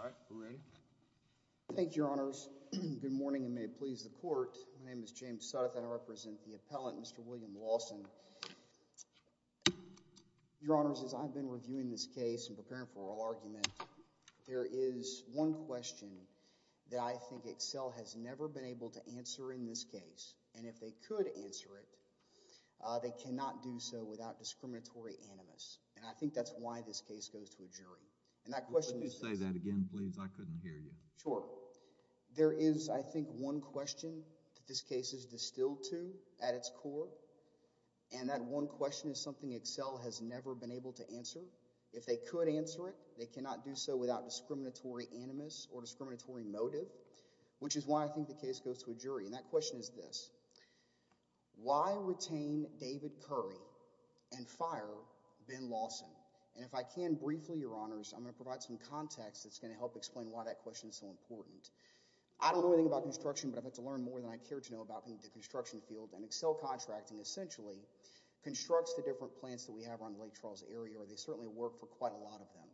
All right, we're ready. Thank you, Your Honors. Good morning, and may it please the Court. My name is James South, and I represent the appellant, Mr. William Lawson. Your Honors, as I've been reviewing this case and preparing for oral argument, there is one question that I think Excel has never been able to answer in this case, and if they could answer it, they cannot do so without discriminatory animus, and I think that's why this case goes to a jury. Would you say that again, please? I couldn't hear you. Sure. There is, I think, one question that this case is distilled to at its core, and that one question is something Excel has never been able to answer. If they could answer it, they cannot do so without discriminatory animus or discriminatory motive, which is why I think the case goes to a jury, and that question is this. Why retain David Curry and fire Ben Lawson? And if I can, briefly, Your Honors, I'm going to provide some context that's going to help explain why that question is so important. I don't know anything about construction, but I've had to learn more than I care to know about the construction field, and Excel Contracting essentially constructs the different plants that we have around Lake Charles area, or they certainly work for quite a lot of them.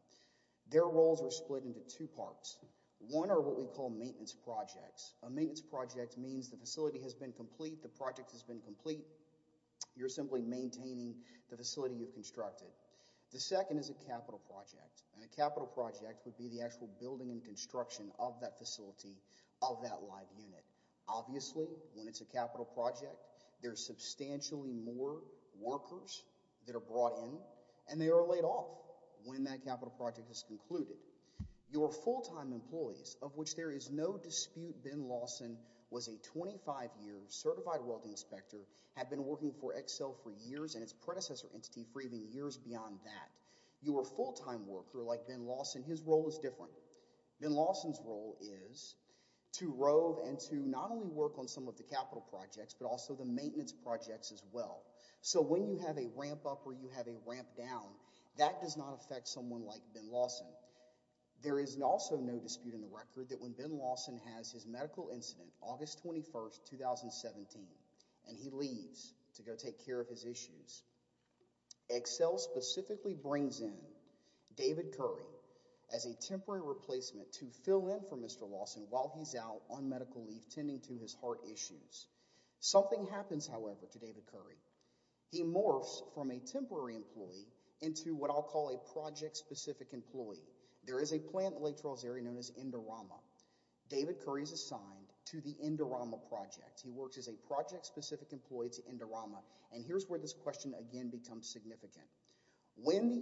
Their roles are split into two parts. One are what we call maintenance projects. A maintenance project means the facility has been complete, the project has been complete, you're simply maintaining the facility you've constructed. The second is a capital project, and a capital project would be the actual building and construction of that facility, of that live unit. Obviously, when it's a capital project, there's substantially more workers that are brought in, and they are laid off when that capital project is concluded. Your full-time employees, of which there is no dispute Ben Lawson was a 25-year certified welding inspector, had been working for Excel for years and its predecessor entity for even years beyond that. Your full-time worker, like Ben Lawson, his role is different. Ben Lawson's role is to rove and to not only work on some of the capital projects, but also the maintenance projects as well. So when you have a ramp up or you have a ramp down, that does not affect someone like Ben Lawson. There is also no dispute in the record that when Ben Lawson has his medical incident, August 21st, 2017, and he leaves to go take care of his issues, Excel specifically brings in David Curry as a temporary replacement to fill in for Mr. Lawson while he's out on part issues. Something happens, however, to David Curry. He morphs from a temporary employee into what I'll call a project-specific employee. There is a plant in Lake Trolls Area known as Indorama. David Curry is assigned to the Indorama project. He works as a project-specific employee to Indorama, and here's where this question again becomes significant. When the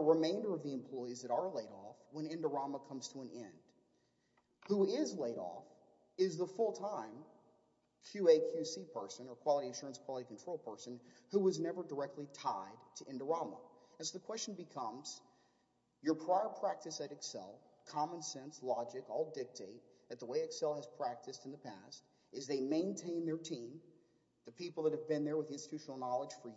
remainder of the employees that are laid off, when Indorama comes to an end, who is laid off is the full-time QA, QC person or Quality Assurance, Quality Control person who was never directly tied to Indorama. And so the question becomes, your prior practice at Excel, common sense, logic, all dictate that the way Excel has practiced in the past is they maintain their team, the people that have been there with institutional knowledge for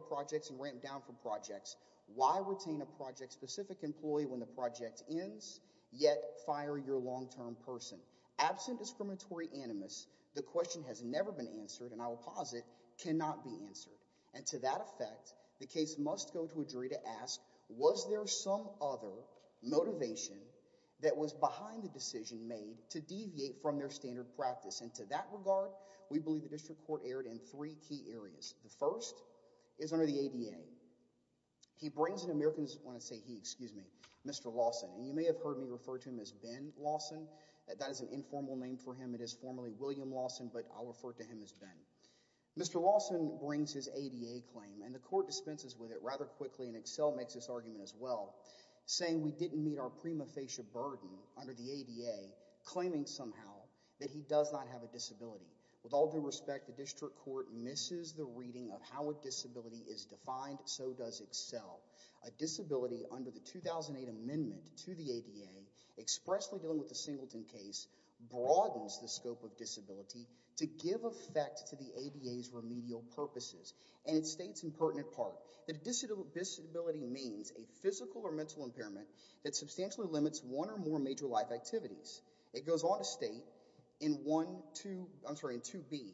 projects and ramped down for projects. Why retain a project-specific employee when the project ends, yet fire your long-term person? Absent discriminatory animus, the question has never been answered and I will posit cannot be answered. And to that effect, the case must go to a jury to ask, was there some other motivation that was behind the decision made to deviate from their standard practice? And to that regard, we believe the District Court erred in three key areas. The first is under the ADA. He brings an American's, when I say he, excuse me, Mr. Lawson, and you may have heard me refer to him as Ben Lawson, that is an informal name for him, it is formally William Lawson, but I'll refer to him as Ben. Mr. Lawson brings his ADA claim and the court dispenses with it rather quickly and Excel makes this argument as well, saying we didn't meet our prima facie burden under the ADA claiming somehow that he does not have a disability. With all due respect, the District Court misses the reading of how a disability is defined, so does Excel. A disability under the 2008 amendment to the ADA expressly dealing with the Singleton case broadens the scope of disability to give effect to the ADA's remedial purposes and it states in pertinent part that a disability means a physical or mental impairment that substantially limits one or more major life activities. It goes on to state in 1, 2, I'm sorry, in 2B,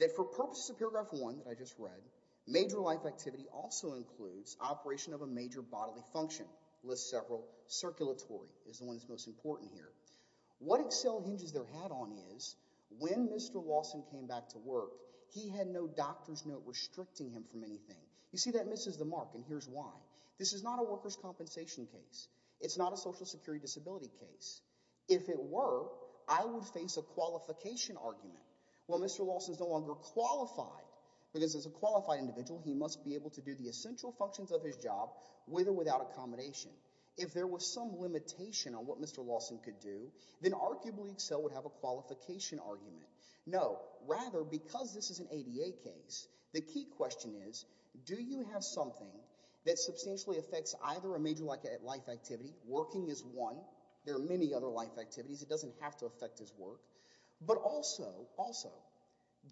that for purposes of paragraph one that I just read, major life activity also includes operation of a major bodily function, lists several, circulatory is the one that's most important here. What Excel hinges their hat on is when Mr. Lawson came back to work, he had no doctor's note restricting him from anything. You see that misses the mark and here's why. This is not a worker's disability case. If it were, I would face a qualification argument. Well, Mr. Lawson is no longer qualified because as a qualified individual, he must be able to do the essential functions of his job with or without accommodation. If there were some limitation on what Mr. Lawson could do, then arguably Excel would have a qualification argument. No, rather because this is an ADA case, the key question is, do you have something that substantially affects either a major life activity, working is one, there are many other life activities, it doesn't have to affect his work, but also, also,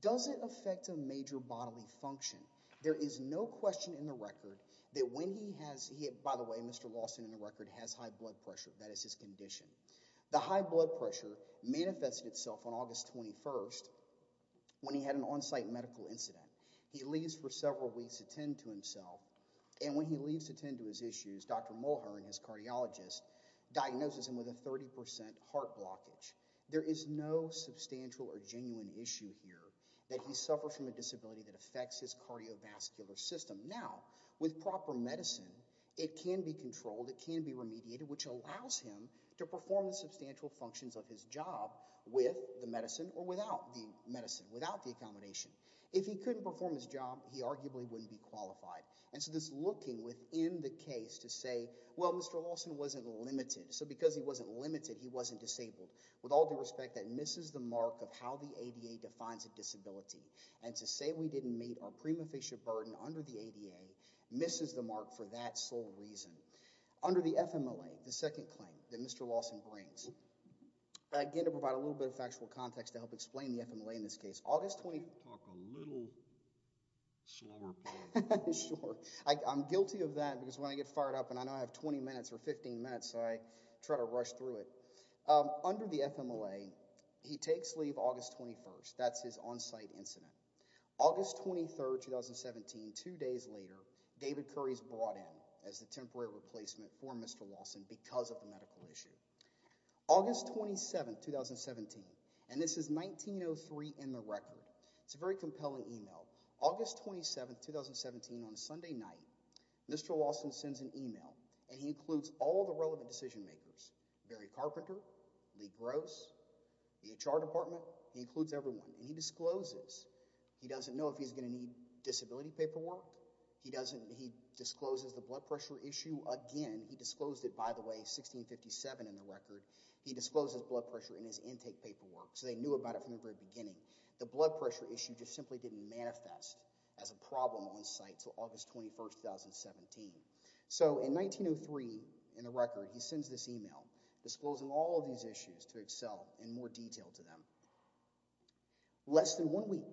does it affect a major bodily function? There is no question in the record that when he has, by the way, Mr. Lawson in the record has high blood pressure, that is his condition. The high blood pressure manifested itself on August 21st when he had an on-site medical incident. He leaves for several weeks to tend to himself and when he leaves to tend to his issues, Dr. Mulher and his cardiologist diagnosis him with a 30% heart blockage. There is no substantial or genuine issue here that he suffers from a disability that affects his cardiovascular system. Now, with proper medicine, it can be controlled, it can be remediated, which allows him to perform the substantial functions of his job with the medicine or without the medicine, without the accommodation. If he couldn't perform his job, he arguably wouldn't be qualified. And so this looking within the case to say, well, Mr. Lawson wasn't limited, so because he wasn't limited, he wasn't disabled, with all due respect, that misses the mark of how the ADA defines a disability. And to say we didn't meet our prima facie burden under the ADA misses the mark for that sole reason. Under the FMLA, the second claim that Mr. Lawson brings, again to provide a little bit of factual context to help explain the FMLA in this case, August 20, I'm guilty of that because when I get fired up and I know I have 20 minutes or 15 minutes, I try to rush through it. Under the FMLA, he takes leave August 21st. That's his onsite incident. August 23rd, 2017, two days later, David Curry's brought in as the temporary replacement for Mr. Lawson because of the medical issue. August 27th, 2017, and this is 1903 in the record. It's a very compelling email. August 27th, 2017, on a Sunday night, Mr. Lawson sends an email and he includes all the relevant decision makers, Barry Carpenter, Lee Gross, the HR department. He includes everyone and he discloses. He doesn't know if he's going to need disability paperwork. He doesn't. He discloses the blood pressure issue again. He disclosed it, by the way, 1657 in the record. He discloses blood pressure in his intake paperwork so they knew about it from the very beginning. The blood pressure issue just simply didn't manifest as a problem onsite until August 21st, 2017. So in 1903, in the record, he sends this email disclosing all of these issues to Excel in more detail to them. Less than one week,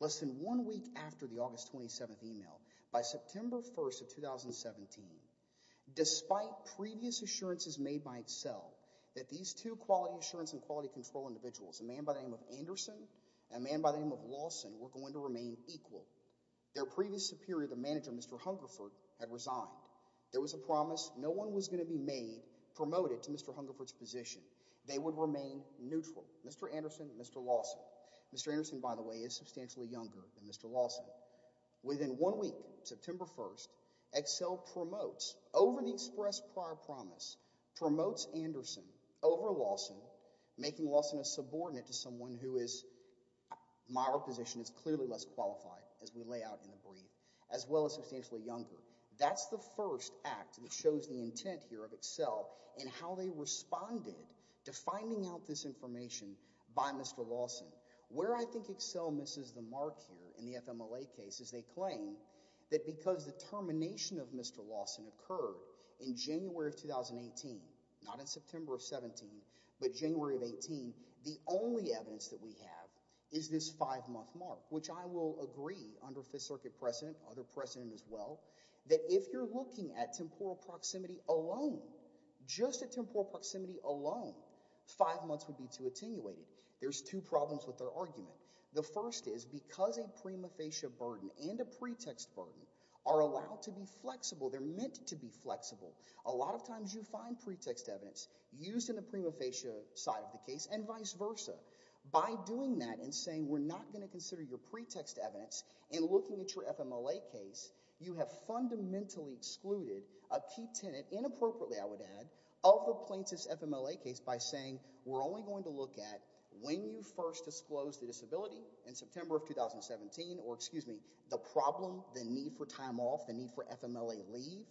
less than one week after the August 27th email, by September 1st of 2017, despite previous assurances made by Excel that these two quality assurance and quality control individuals, a man by the name of Anderson and a man by the name of Lawson, were going to remain equal. Their previous superior, the manager, Mr. Hungerford, had resigned. There was a promise no one was going to be made, promoted to Mr. Hungerford's position. They would remain neutral. Mr. Anderson, Mr. Lawson. Mr. Anderson, by the way, is substantially younger than Mr. Lawson. Within one week, September 1st, Excel promotes, over an express prior promise, promotes Anderson over Lawson, making Lawson a subordinate to someone who is, my reposition, is clearly less qualified as we lay out in the brief, as well as substantially younger. That's the first act that shows the intent here of Excel in how they responded to finding out this information by Mr. Lawson. Where I think Excel misses the mark here in the FMLA case is they claim that because the termination of Mr. Lawson occurred in January of 2018, not in September of 17, but January of 18, the only evidence that we have is this five-month mark, which I will agree, under Fifth Circuit precedent, other precedent as well, that if you're looking at temporal proximity alone, just at temporal proximity alone, five months would be too attenuated. There's two problems with their argument. The first is because a prima facie burden and a pretext burden are allowed to be flexible, they're meant to be flexible, a lot of times you find pretext evidence used in the prima facie side of the case and vice versa. By doing that and saying we're not going to consider your pretext evidence and looking at your FMLA case, you have fundamentally excluded a key tenant, inappropriately I would add, of the first disclosed disability in September of 2017, or excuse me, the problem, the need for time off, the need for FMLA leave,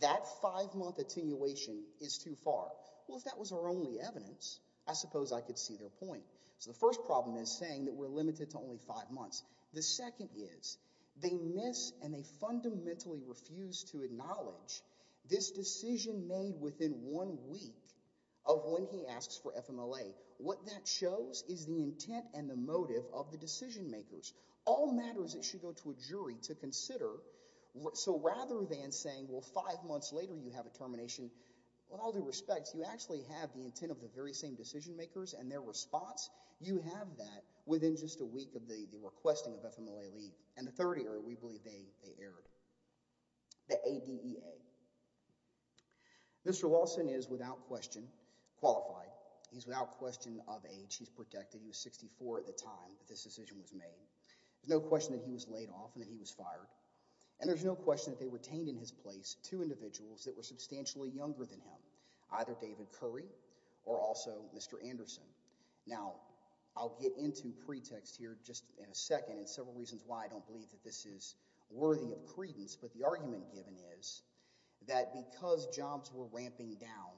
that five-month attenuation is too far. Well, if that was our only evidence, I suppose I could see their point. So the first problem is saying that we're limited to only five months. The second is they miss and they fundamentally refuse to acknowledge this decision made within one week of when he asks for FMLA. What that shows is the intent and the motive of the decision makers. All matters that should go to a jury to consider, so rather than saying, well, five months later you have a termination, with all due respect, you actually have the intent of the very same decision makers and their response, you have that within just a week of the requesting of FMLA leave. And the third area we believe they erred. The ADEA. Mr. Lawson is without question qualified, he's without question of age, he's protected, he was 64 at the time that this decision was made. There's no question that he was laid off and that he was fired. And there's no question that they retained in his place two individuals that were substantially younger than him, either David Curry or also Mr. Anderson. Now, I'll get into pretext here just in a second and several reasons why I don't believe that this is worthy of credence, but the argument given is that because jobs were ramping down,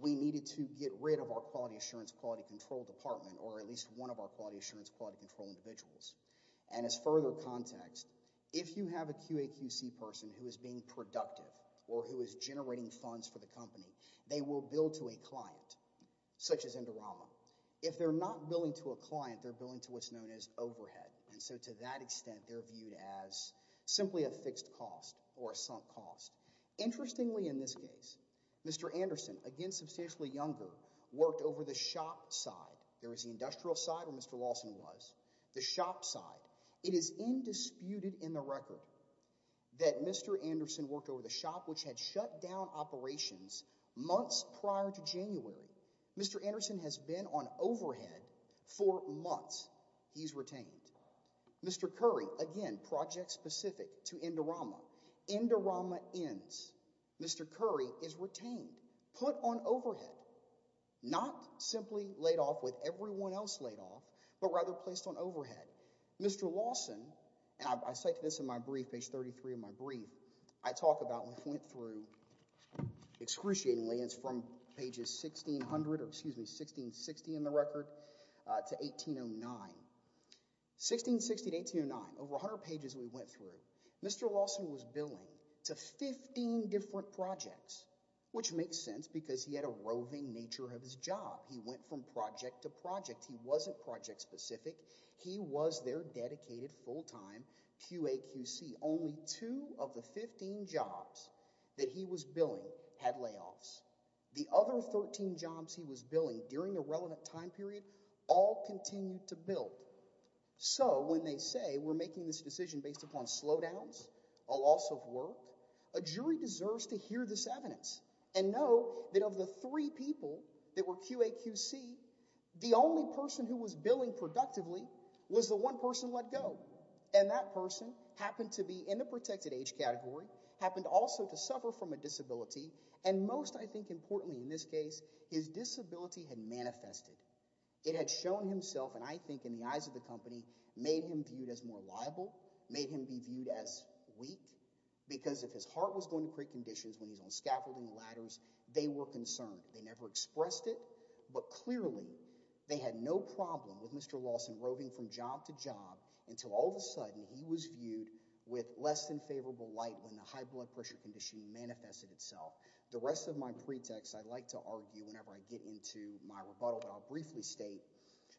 we needed to get rid of our Quality Assurance Quality Control Department or at least one of our Quality Assurance Quality Control Individuals. And as further context, if you have a QAQC person who is being productive or who is generating funds for the company, they will bill to a client, such as Indorama. If they're not billing to a client, they're billing to what's known as overhead. And so to that extent, they're a fixed cost or a sunk cost. Interestingly, in this case, Mr. Anderson, again substantially younger, worked over the shop side. There was the industrial side where Mr. Lawson was, the shop side. It is indisputed in the record that Mr. Anderson worked over the shop which had shut down operations months prior to January. Mr. Anderson has been on overhead for months he's retained. Mr. Curry, again, project specific to Indorama. Indorama ends. Mr. Curry is retained, put on overhead, not simply laid off with everyone else laid off, but rather placed on overhead. Mr. Lawson, and I cite this in my brief, page 33 of my brief, I talk about and point through excruciatingly, it's from pages 1600 or excuse me, 1660 in the record to 1809. 1660 to 1809, over 100 pages we went through, Mr. Lawson was billing to 15 different projects, which makes sense because he had a roving nature of his job. He went from project to project. He wasn't project specific. He was their dedicated full-time QAQC. Only two of the 15 jobs that he was billing had layoffs. The other 13 jobs he was billing during a relevant time period all continued to bill. So when they say we're making this decision based upon slowdowns, a loss of work, a jury deserves to hear this evidence and know that of the three people that were QAQC, the only person who was billing productively was the one person let go. And that person happened to be in the protected age category, happened also to suffer from a disability, and most I think importantly in this case, his disability had manifested. It had shown himself and I think in the eyes of the company made him viewed as more liable, made him be viewed as weak, because if his heart was going to create conditions when he's on scaffolding ladders, they were concerned. They never expressed it, but clearly they had no problem with Mr. Lawson roving from job to job until all of a sudden he was viewed with less than favorable light when the high court ruled against Mr. Lawson. So I think there's a lot of pretext. I'd like to argue whenever I get into my rebuttal, but I'll briefly state,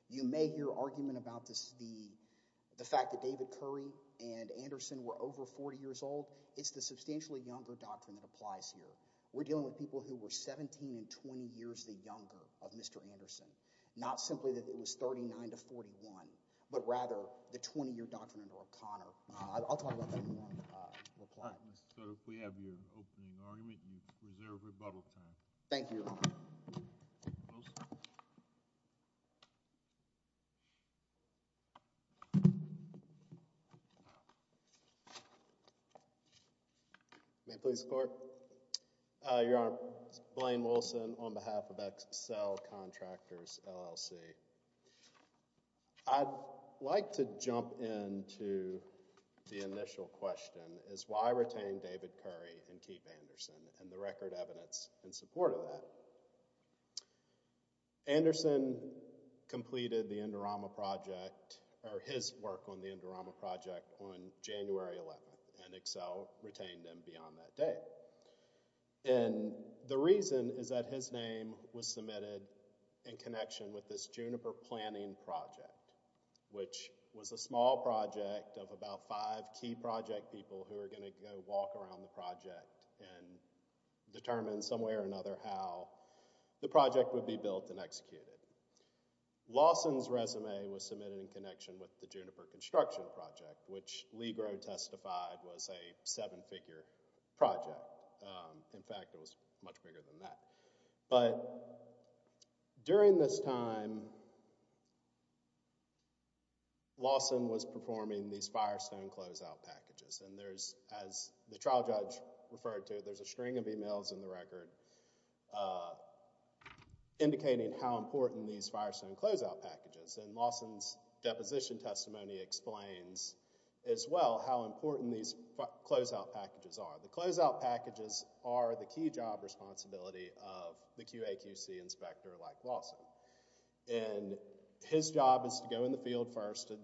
you may hear argument about the fact that David Curry and Anderson were over 40 years old. It's the substantially younger doctrine that applies here. We're dealing with people who were 17 and 20 years the younger of Mr. Anderson, not simply that it was 39 to 41, but rather the 20-year doctrine under O'Connor. I'll talk about that in one reply. So if we have your opening argument, you reserve rebuttal time. Thank you, Your Honor. May it please the Court? Your Honor, it's Blaine Wilson on behalf of Excel Contractors, LLC. I'd like to jump in to the initial question, is why retain David Curry and Keith Anderson and the record evidence in support of that? Anderson completed the Indorama Project, or his work on the Indorama Project, on January 11th, and Excel retained him beyond that date. And the reason is that his name was submitted in connection with this Juniper Planning Project, which was a small project of about five key project people who were going to go walk around the project and determine some way or another how the project would be built and executed. Lawson's resume was submitted in connection with the Juniper Construction Project, which In fact, it was much bigger than that. But during this time, Lawson was performing these Firestone closeout packages. And there's, as the trial judge referred to, there's a string of emails in the record indicating how important these Firestone closeout packages. And Lawson's deposition testimony explains as well how important these closeout packages are. The closeout packages are the key job responsibility of the QAQC inspector like Lawson. And his job is to go in the field first and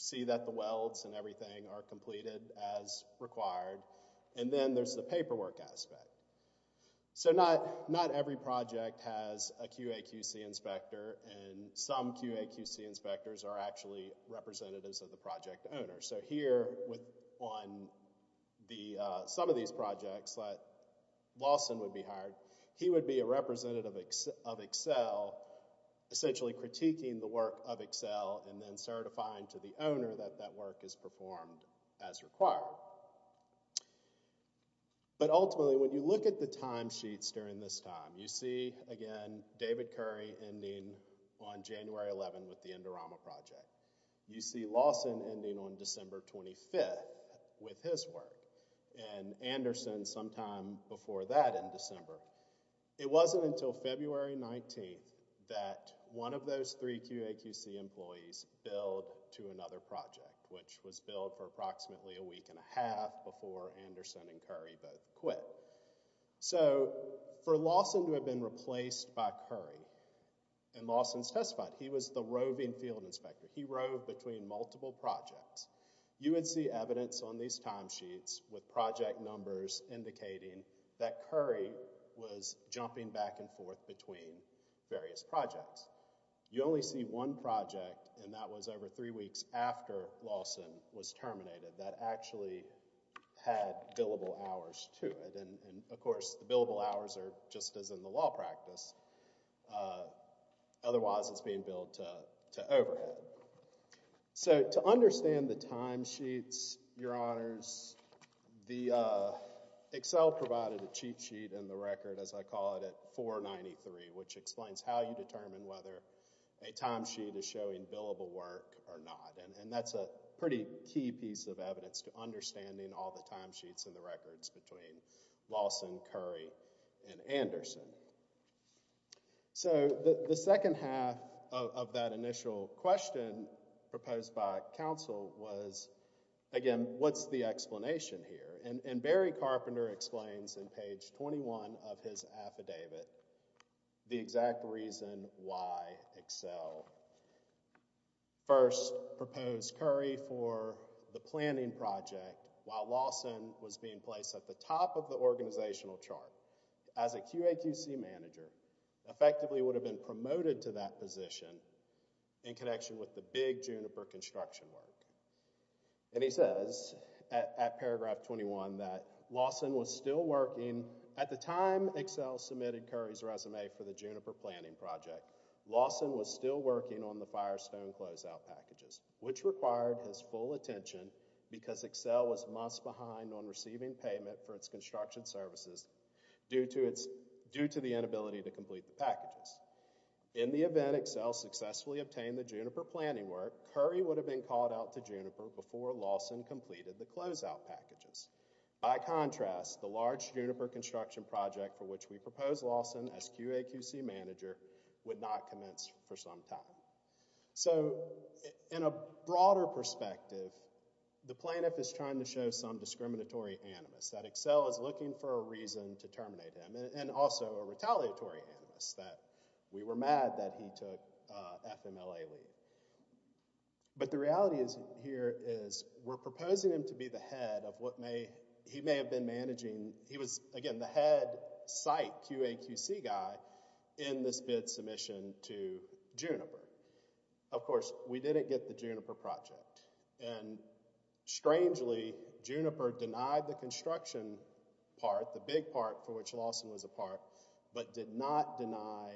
see that the welds and everything are completed as required, and then there's the paperwork aspect. So not every project has a QAQC inspector, and some QAQC inspectors are actually representatives of the project owner. So here on some of these projects, Lawson would be hired. He would be a representative of Excel, essentially critiquing the work of Excel, and then certifying to the owner that that work is performed as required. But ultimately, when you look at the timesheets during this time, you see, again, David Curry ending on January 11 with the Indorama Project. You see Lawson ending on December 25th with his work, and Anderson sometime before that in December. It wasn't until February 19th that one of those three QAQC employees billed to another project, which was billed for approximately a week and a half before Anderson and Curry both quit. So for Lawson to have been replaced by Curry, and Lawson testified, he was the roving field inspector. He roved between multiple projects. You would see evidence on these timesheets with project numbers indicating that Curry was jumping back and forth between various projects. You only see one project, and that was over three weeks after Lawson was terminated, that actually had billable hours to it. And of course, the billable hours are just as in the law practice. Otherwise, it's being billed to overhead. So to understand the timesheets, your honors, Excel provided a cheat sheet in the record, as I call it, at 493, which explains how you determine whether a timesheet is showing billable work or not. And that's a pretty key piece of evidence to understanding all the timesheets in the records between Lawson, Curry, and Anderson. So the second half of that initial question proposed by counsel was, again, what's the explanation here? And Barry Carpenter explains in page 21 of his affidavit the exact reason why Excel first proposed Curry for the planning project while Lawson was being placed at the top of the organizational chart as a QAQC manager, effectively would have been promoted to that position in connection with the big Juniper construction work. And he says at paragraph 21 that Lawson was still working at the time Excel submitted Curry's resume for the Juniper planning project, Lawson was still working on the Firestone closeout packages, which required his full attention because Excel was months behind on receiving payment for its construction services due to the inability to complete the packages. In the event Excel successfully obtained the Juniper planning work, Curry would have been called out to Juniper before Lawson completed the closeout packages. By contrast, the large Juniper construction project for which we proposed Lawson as QAQC manager would not commence for some time. So in a broader perspective, the plaintiff is trying to show some discriminatory animus, that Excel is looking for a reason to terminate him, and also a retaliatory animus, that we were mad that he took FMLA leave. But the reality here is we're proposing him to be the head of what may, he may have been managing, he was again the head site QAQC guy in this bid submission to Juniper. Of course, we didn't get the Juniper project. And strangely, Juniper denied the construction part, the big part for which Lawson was a part, but did not deny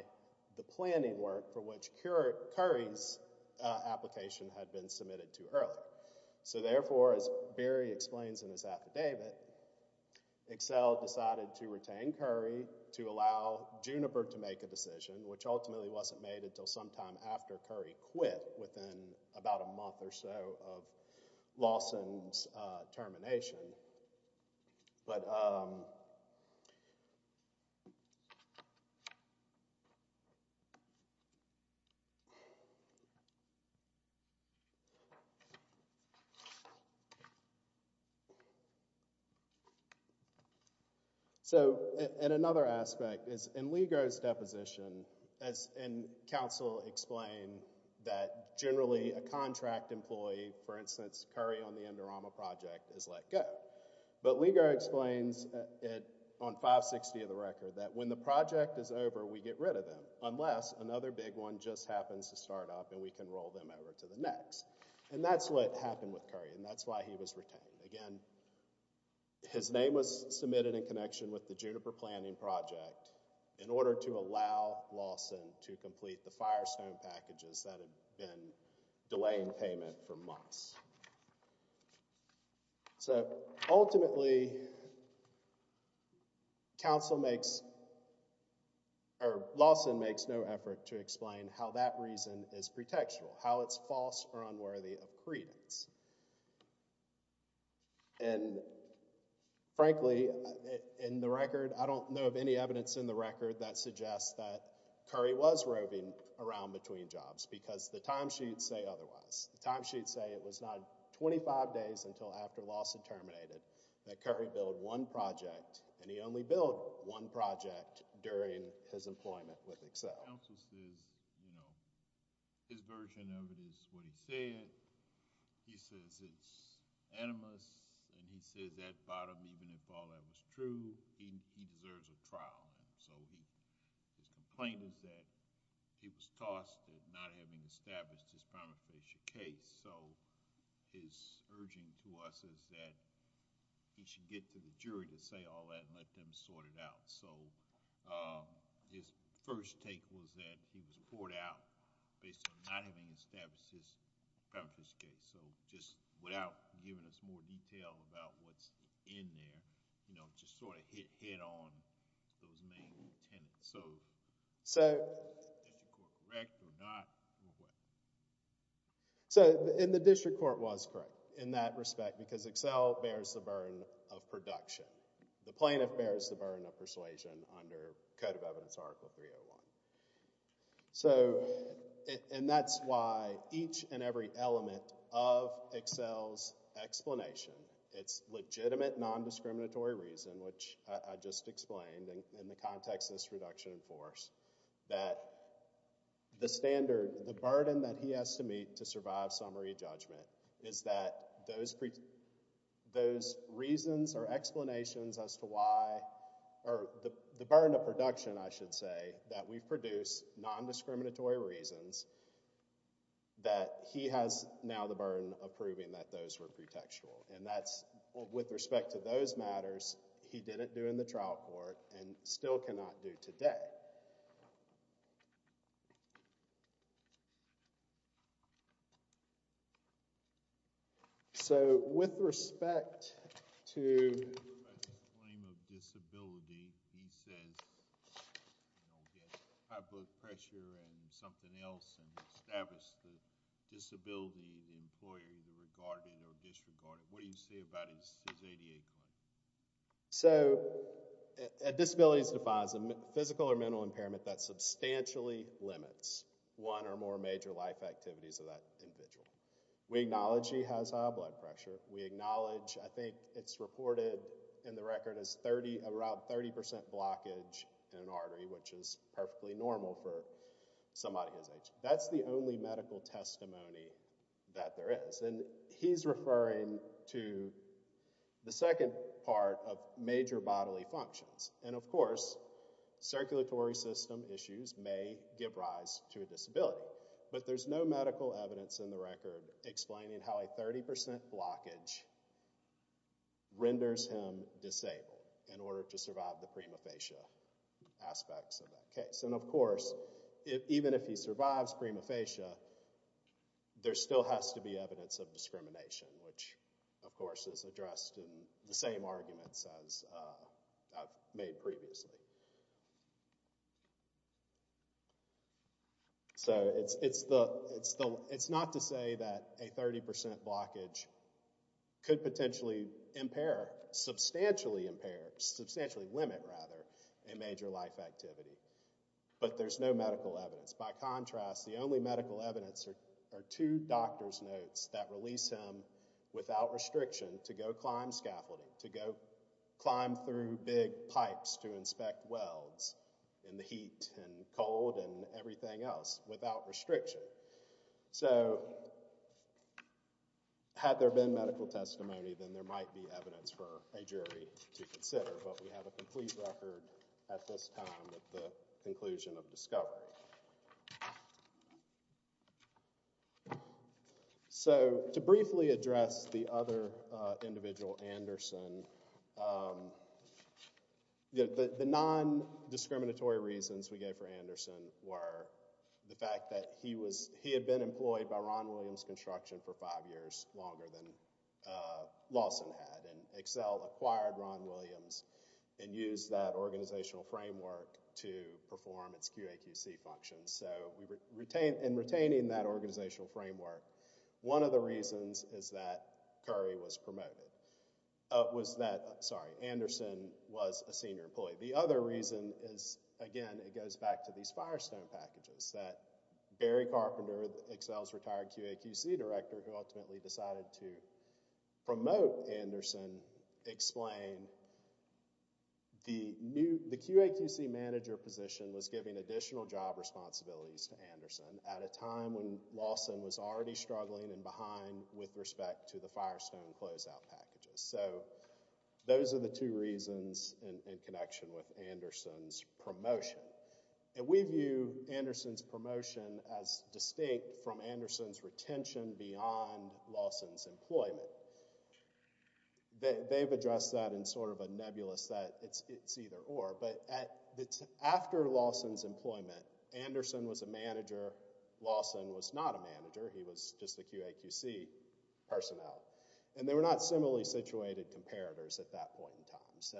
the planning work for which Curry's application had been submitted to early. So therefore, as Barry explains in his affidavit, Excel decided to retain Curry to allow Juniper to make a decision, which ultimately wasn't made until sometime after Curry quit within about a month or so of Lawson's termination. So, and another aspect is in Ligo's deposition, and counsel explain that generally a contract employee, for instance, Curry on the Indorama project is let go. But Ligo explains it on 560 of the record, that when the project is over, we get rid of them, unless another big one just happens to start up and we can roll them over to the next. And that's what happened with Curry, and that's why he was retained. Again, his name was submitted in connection with the Juniper planning project in order to allow Lawson to complete the Firestone packages that had been delaying payment for months. So ultimately, counsel makes, or Lawson makes no effort to explain how that reason is pretextual, how it's false or unworthy of credence. And frankly, in the record, I don't know of any evidence in the record that suggests that Curry was roving around between jobs because the timesheets say otherwise. The timesheets say it was not 25 days until after Lawson terminated that Curry built one project, and he only built one project during his employment with Excel. Counsel says, you know, his version of it is what he said. He says it's animus, and he says at bottom, even if all that was true, he deserves a trial. So his complaint is that he was tossed at not having established his prima facie case. So his urging to us is that he should get to the jury to say all that and let them sort it out. So his first take was that he was poured out based on not having established his prima facie case. So just without giving us more detail about what's in there, you know, just sort of hit head on those main tenets. So is the district court correct or not, or what? So in the district court, it was correct in that respect because Excel bears the burden of production. The plaintiff bears the burden of persuasion under Code of Evidence Article 301. And that's why each and every element of Excel's explanation, its legitimate non-discriminatory reason, which I just explained in the context of this reduction in force, that the standard, the burden that he has to meet to survive summary judgment is that those reasons are explanations as to why, or the burden of production, I should say, that we've produced, non-discriminatory reasons, that he has now the burden of proving that those were pretextual. And that's, with respect to those matters, he didn't do in the trial court and still cannot do today. All right. So with respect to— The claim of disability, he says, you know, he had high blood pressure and something else and established the disability, the employer, the regarded or disregarded. What do you say about his ADA claim? So a disability defines a physical or mental impairment that substantially limits one or more major life activities of that individual. We acknowledge he has high blood pressure. We acknowledge, I think it's reported in the record as around 30% blockage in an artery, which is perfectly normal for somebody his age. That's the only medical testimony that there is. And he's referring to the second part of major bodily functions. And, of course, circulatory system issues may give rise to a disability. But there's no medical evidence in the record explaining how a 30% blockage renders him disabled in order to survive the prima facie aspects of that case. And, of course, even if he survives prima facie, there still has to be evidence of discrimination, which, of course, is addressed in the same arguments as I've made previously. So it's not to say that a 30% blockage could potentially impair, substantially impair, substantially limit, rather, a major life activity. But there's no medical evidence. By contrast, the only medical evidence are two doctor's notes that release him without restriction to go climb scaffolding, to go climb through big pipes to inspect welds in the heat and cold and everything else without restriction. So had there been medical testimony, then there might be evidence for a jury to consider. But we have a complete record at this time with the conclusion of discovery. So to briefly address the other individual, Anderson, the non-discriminatory reasons we gave for Anderson were the fact that he had been employed by Ron Williams Construction for five years, longer than Lawson had. And Excel acquired Ron Williams and used that organizational framework to perform its QAQC functions. So in retaining that organizational framework, one of the reasons is that Anderson was a senior employee. The other reason is, again, it goes back to these Firestone packages, that Barry Carpenter, Excel's retired QAQC director, who ultimately decided to promote Anderson, explained the QAQC manager position was giving additional job responsibilities to Anderson at a time when Lawson was already struggling and behind with respect to the Firestone closeout packages. So those are the two reasons in connection with Anderson's promotion. And we view Anderson's promotion as distinct from Anderson's retention beyond Lawson's employment. They've addressed that in sort of a nebulous that it's either or. But after Lawson's employment, Anderson was a manager. Lawson was not a manager. He was just the QAQC personnel. And they were not similarly situated comparators at that point in time. So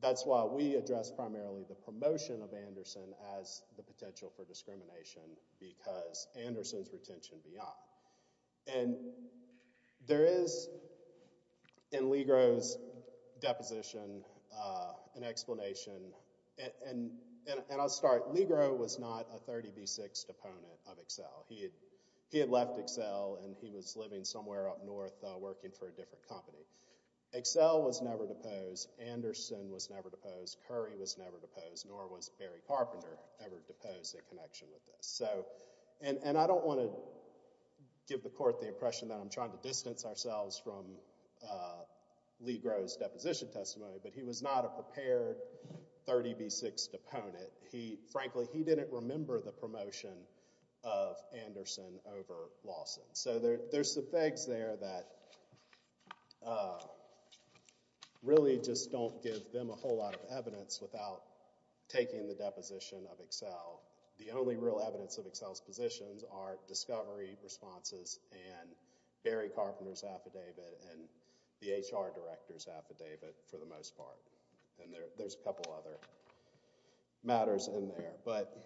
that's why we address primarily the promotion of Anderson as the potential for discrimination because Anderson's retention beyond. And there is, in Legro's deposition, an explanation. And I'll start. Legro was not a 30B6 deponent of Excel. He had left Excel, and he was living somewhere up north working for a different company. Excel was never deposed. Anderson was never deposed. Curry was never deposed. Nor was Barry Carpenter ever deposed in connection with this. And I don't want to give the court the impression that I'm trying to distance ourselves from Legro's deposition testimony. But he was not a prepared 30B6 deponent. Frankly, he didn't remember the promotion of Anderson over Lawson. So there's some fags there that really just don't give them a whole lot of evidence without taking the deposition of Excel. The only real evidence of Excel's positions are discovery responses and Barry Carpenter's affidavit and the HR director's affidavit for the most part. And there's a couple other matters in there. But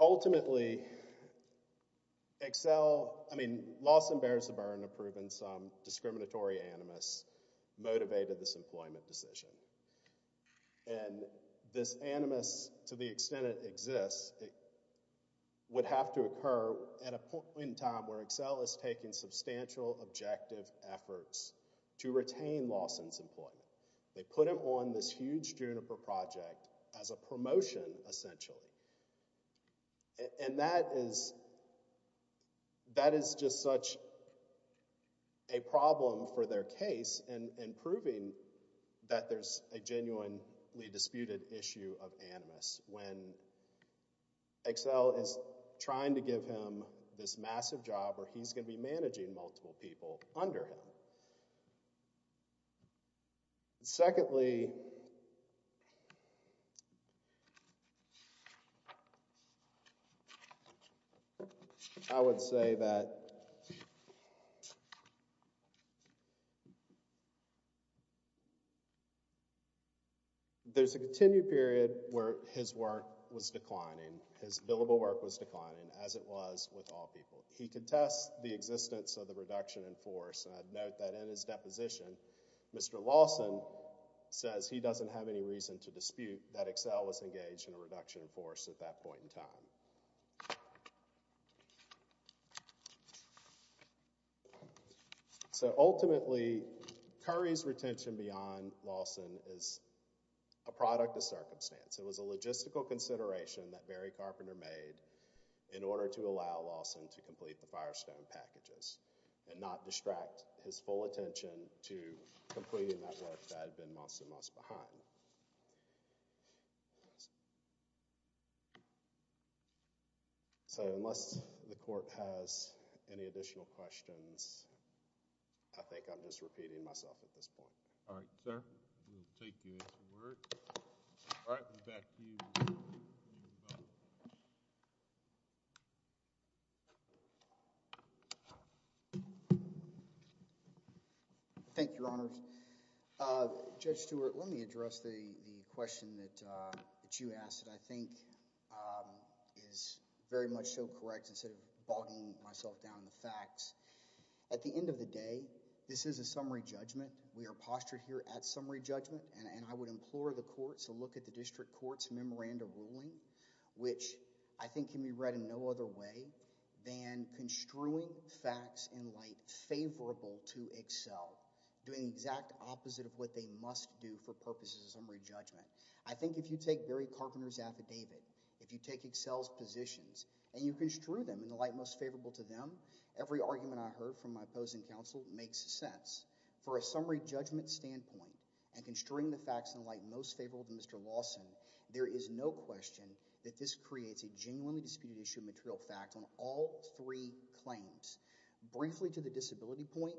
ultimately, Lawson bears the burden of proving some discriminatory animus motivated this employment decision. And this animus, to the extent it exists, would have to occur at a point in time where Excel is taking substantial objective efforts to retain Lawson's employment. They put him on this huge Juniper project as a promotion, essentially. And that is just such a problem for their case in proving that there's a genuinely disputed issue of animus when Excel is trying to give him this massive job where he's going to be managing multiple people under him. Secondly, I would say that there's a continued period where his work was declining. His billable work was declining, as it was with all people. He contests the existence of the reduction in force. And I'd note that in his deposition, Mr. Lawson says he doesn't have any reason to dispute that Excel was engaged in a reduction in force at that point in time. So ultimately, Curry's retention beyond Lawson is a product of circumstance. It was a logistical consideration that Barry Carpenter made in order to allow Lawson to complete the Firestone packages and not distract his full attention to completing that work that had been months and months behind. So unless the court has any additional questions, I think I'm just repeating myself at this point. All right, sir. We'll take you into work. All right, we'll back to you. Thank you, Your Honors. Judge Stewart, let me address the question that you asked that I think is very much so correct instead of bogging myself down in the facts. At the end of the day, this is a summary judgment. We are postured here at summary judgment. And I would implore the courts to look at the district court's memorandum ruling, which I think can be read in no other way than construing facts in light favorable to Excel, doing the exact opposite of what they must do for purposes of summary judgment. I think if you take Barry Carpenter's affidavit, if you take Excel's positions, and you construe them in the light most favorable to them, every argument I heard from my opposing counsel makes sense. For a summary judgment standpoint, and construing the facts in the light most favorable to Mr. Lawson, there is no question that this creates a genuinely disputed issue of material facts on all three claims. Briefly to the disability point,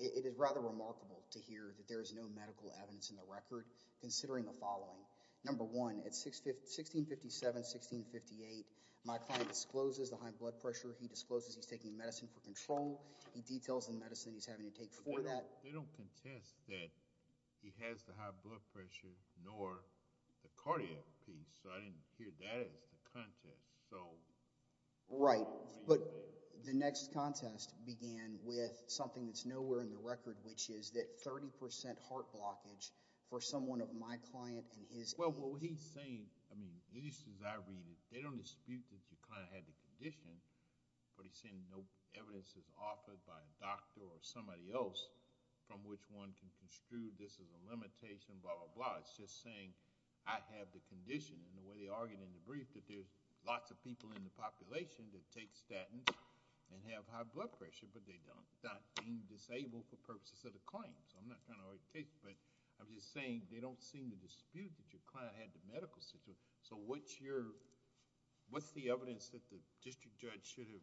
it is rather remarkable to hear that there is no medical evidence in the record, considering the following. Number one, at 1657, 1658, my client discloses the high blood pressure. He discloses he's taking medicine for control. He details the medicine he's having to take for that. They don't contest that he has the high blood pressure nor the cardiac piece. So I didn't hear that as the contest. Right. But the next contest began with something that's nowhere in the record, which is that 30% heart blockage for someone of my client and his. Well, what he's saying, at least as I read it, they don't dispute that your client had the condition. But he's saying no evidence is offered by a doctor or somebody else from which one can construe this is a limitation, blah, blah, blah. It's just saying, I have the condition. And the way they argued in the brief that there's lots of people in the population that take statins and have high blood pressure, but they're not being disabled for purposes of the claim. So I'm not trying to overstate it. But I'm just saying they don't seem to dispute that your client had the medical situation. So what's the evidence that the district judge should have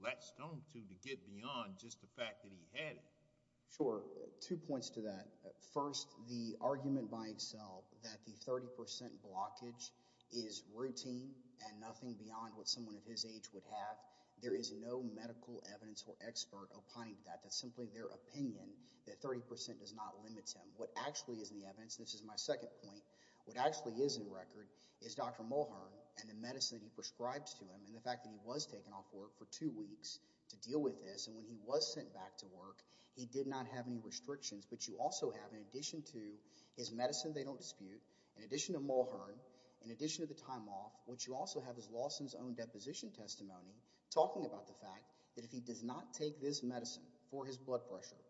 latched on to to get beyond just the fact that he had it? Sure. Two points to that. First, the argument by itself that the 30% blockage is routine and nothing beyond what someone of his age would have. There is no medical evidence or expert opining that. That's simply their opinion that 30% does not limit him. What actually is in the evidence, and this is my second point, what actually is in record is Dr. Mulhern and the medicine he prescribes to him and the fact that he was taken off work for two weeks to deal with this. And when he was sent back to work, he did not have any restrictions. But you also have, in addition to his medicine they don't dispute, in addition to Mulhern, in addition to the time off, what you also have is Lawson's own deposition testimony talking about the fact that if he does not take this medicine for his blood pressure,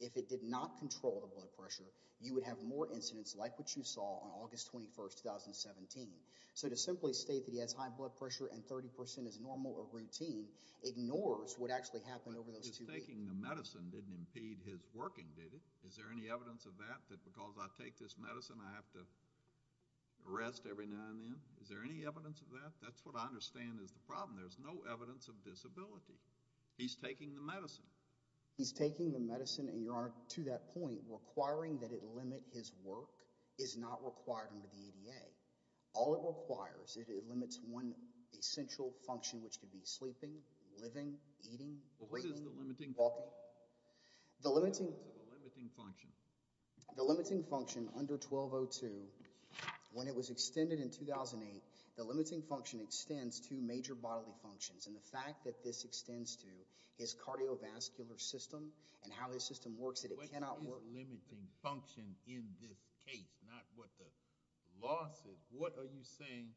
if it did not control the blood pressure, you would have more incidents like what you saw on August 21, 2017. So to simply state that he has high blood pressure and 30% is normal or routine ignores what actually happened over those two weeks. But just taking the medicine didn't impede his working, did it? Is there any evidence of that, that because I take this medicine, I have to rest every now and then? Is there any evidence of that? That's what I understand is the problem. There's no evidence of disability. He's taking the medicine. He's taking the medicine, and Your Honor, to that point, requiring that it limit his work is not required under the ADA. All it requires, it limits one essential function, which could be sleeping, living, eating, waiting, walking. Well, what is the limiting function? The limiting function. The limiting function under 1202, when it was extended in 2008, the limiting function extends to major bodily functions. And the fact that this extends to his cardiovascular system and how his system works, that it cannot work. What is limiting function in this case, not what the law says? What are you saying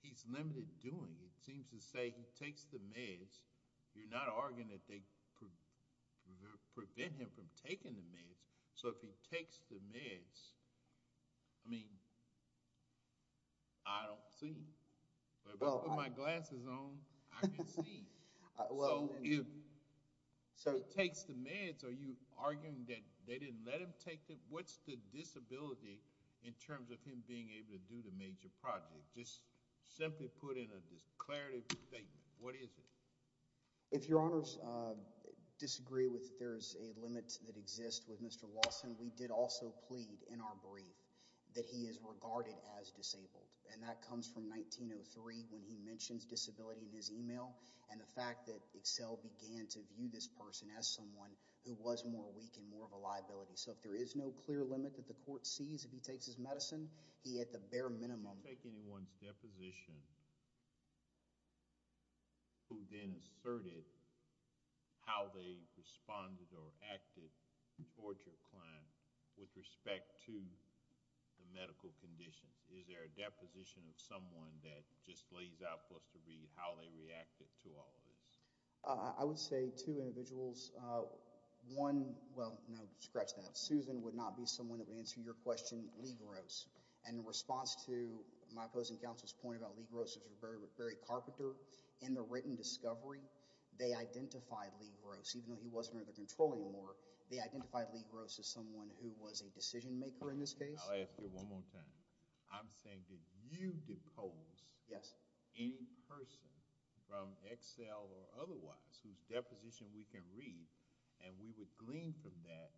he's limited doing? It seems to say he takes the meds. You're not arguing that they prevent him from taking the meds. So if he takes the meds, I mean, I don't see. But if I put my glasses on, I can see. So if he takes the meds, are you arguing that they didn't let him take them? What's the disability in terms of him being able to do the major project? Just simply put in a declarative statement. What is it? If Your Honors disagree with there's a limit that exists with Mr. Lawson, we did also plead in our brief that he is regarded as disabled. And that comes from 1903 when he mentions disability in his email and the fact that Excel began to view this person as someone who was more weak and more of a liability. So if there is no clear limit that the court sees if he takes his medicine, he at the bare minimum. Take anyone's deposition who then asserted how they responded or acted towards your client with respect to the medical condition. Is there a deposition of someone that just lays out for us to read how they reacted to all of this? I would say two individuals. One, well, no, scratch that. Susan would not be someone that would answer your question. Ligros. And in response to my opposing counsel's point about Ligros as a very carpenter in the written discovery, they identified Ligros. Even though he wasn't under their control anymore, they identified Ligros as someone who was a decision maker in this case. I'll ask you one more time. I'm saying did you decode any person from Excel or otherwise whose deposition we can read and we would glean from that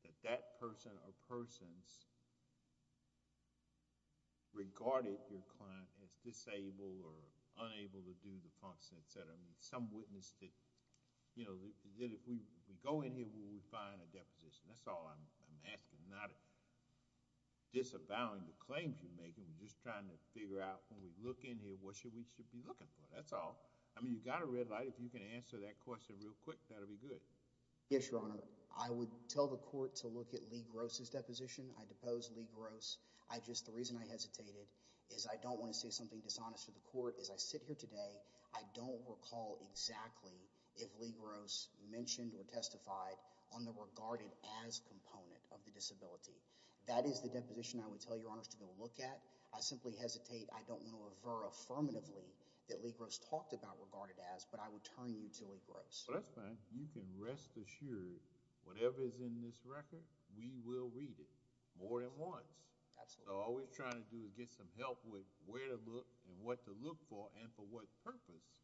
that that person or persons regarded your client as disabled or unable to do the functions, et cetera. I mean, some witness that if we go in here, will we find a deposition? That's all I'm asking, not disavowing the claims you're making. We're just trying to figure out when we look in here, what we should be looking for. That's all. I mean, you've got a red light. If you can answer that question real quick, that'll be good. Yes, Your Honor. I would tell the court to look at Ligros' deposition. I depose Ligros. Just the reason I hesitated is I don't want to say something dishonest to the court. As I sit here today, I don't recall exactly if Ligros mentioned or testified on the regarded as component of the disability. That is the deposition I would tell Your Honors to go look at. I simply hesitate. I don't want to refer affirmatively that Ligros talked about regarded as, but I would turn you to Ligros. Well, that's fine. You can rest assured whatever is in this record, we will read it more than once. Absolutely. So all we're trying to do is get some help with where to look and what to look for and for what purpose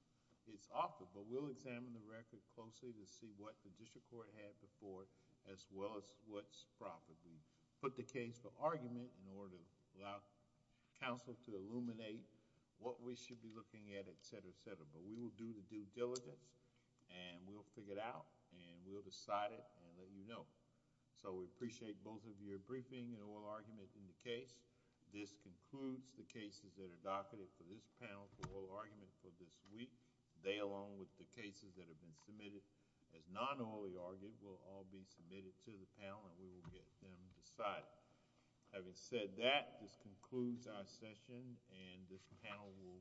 it's offered. But we'll examine the record closely to see what the district court had before, as well as what's properly put the case for argument in order to allow counsel to illuminate what we should be looking at, et cetera, et cetera. But we will do the due diligence, and we'll figure it out, and we'll decide it, and let you know. So we appreciate both of your briefing and oral argument in the case. This concludes the cases that are docketed for this panel for oral argument for this week. They, along with the cases that have been submitted as non-orally argued, will all be submitted to the panel, and we will get them decided. Having said that, this concludes our session, and this panel will close.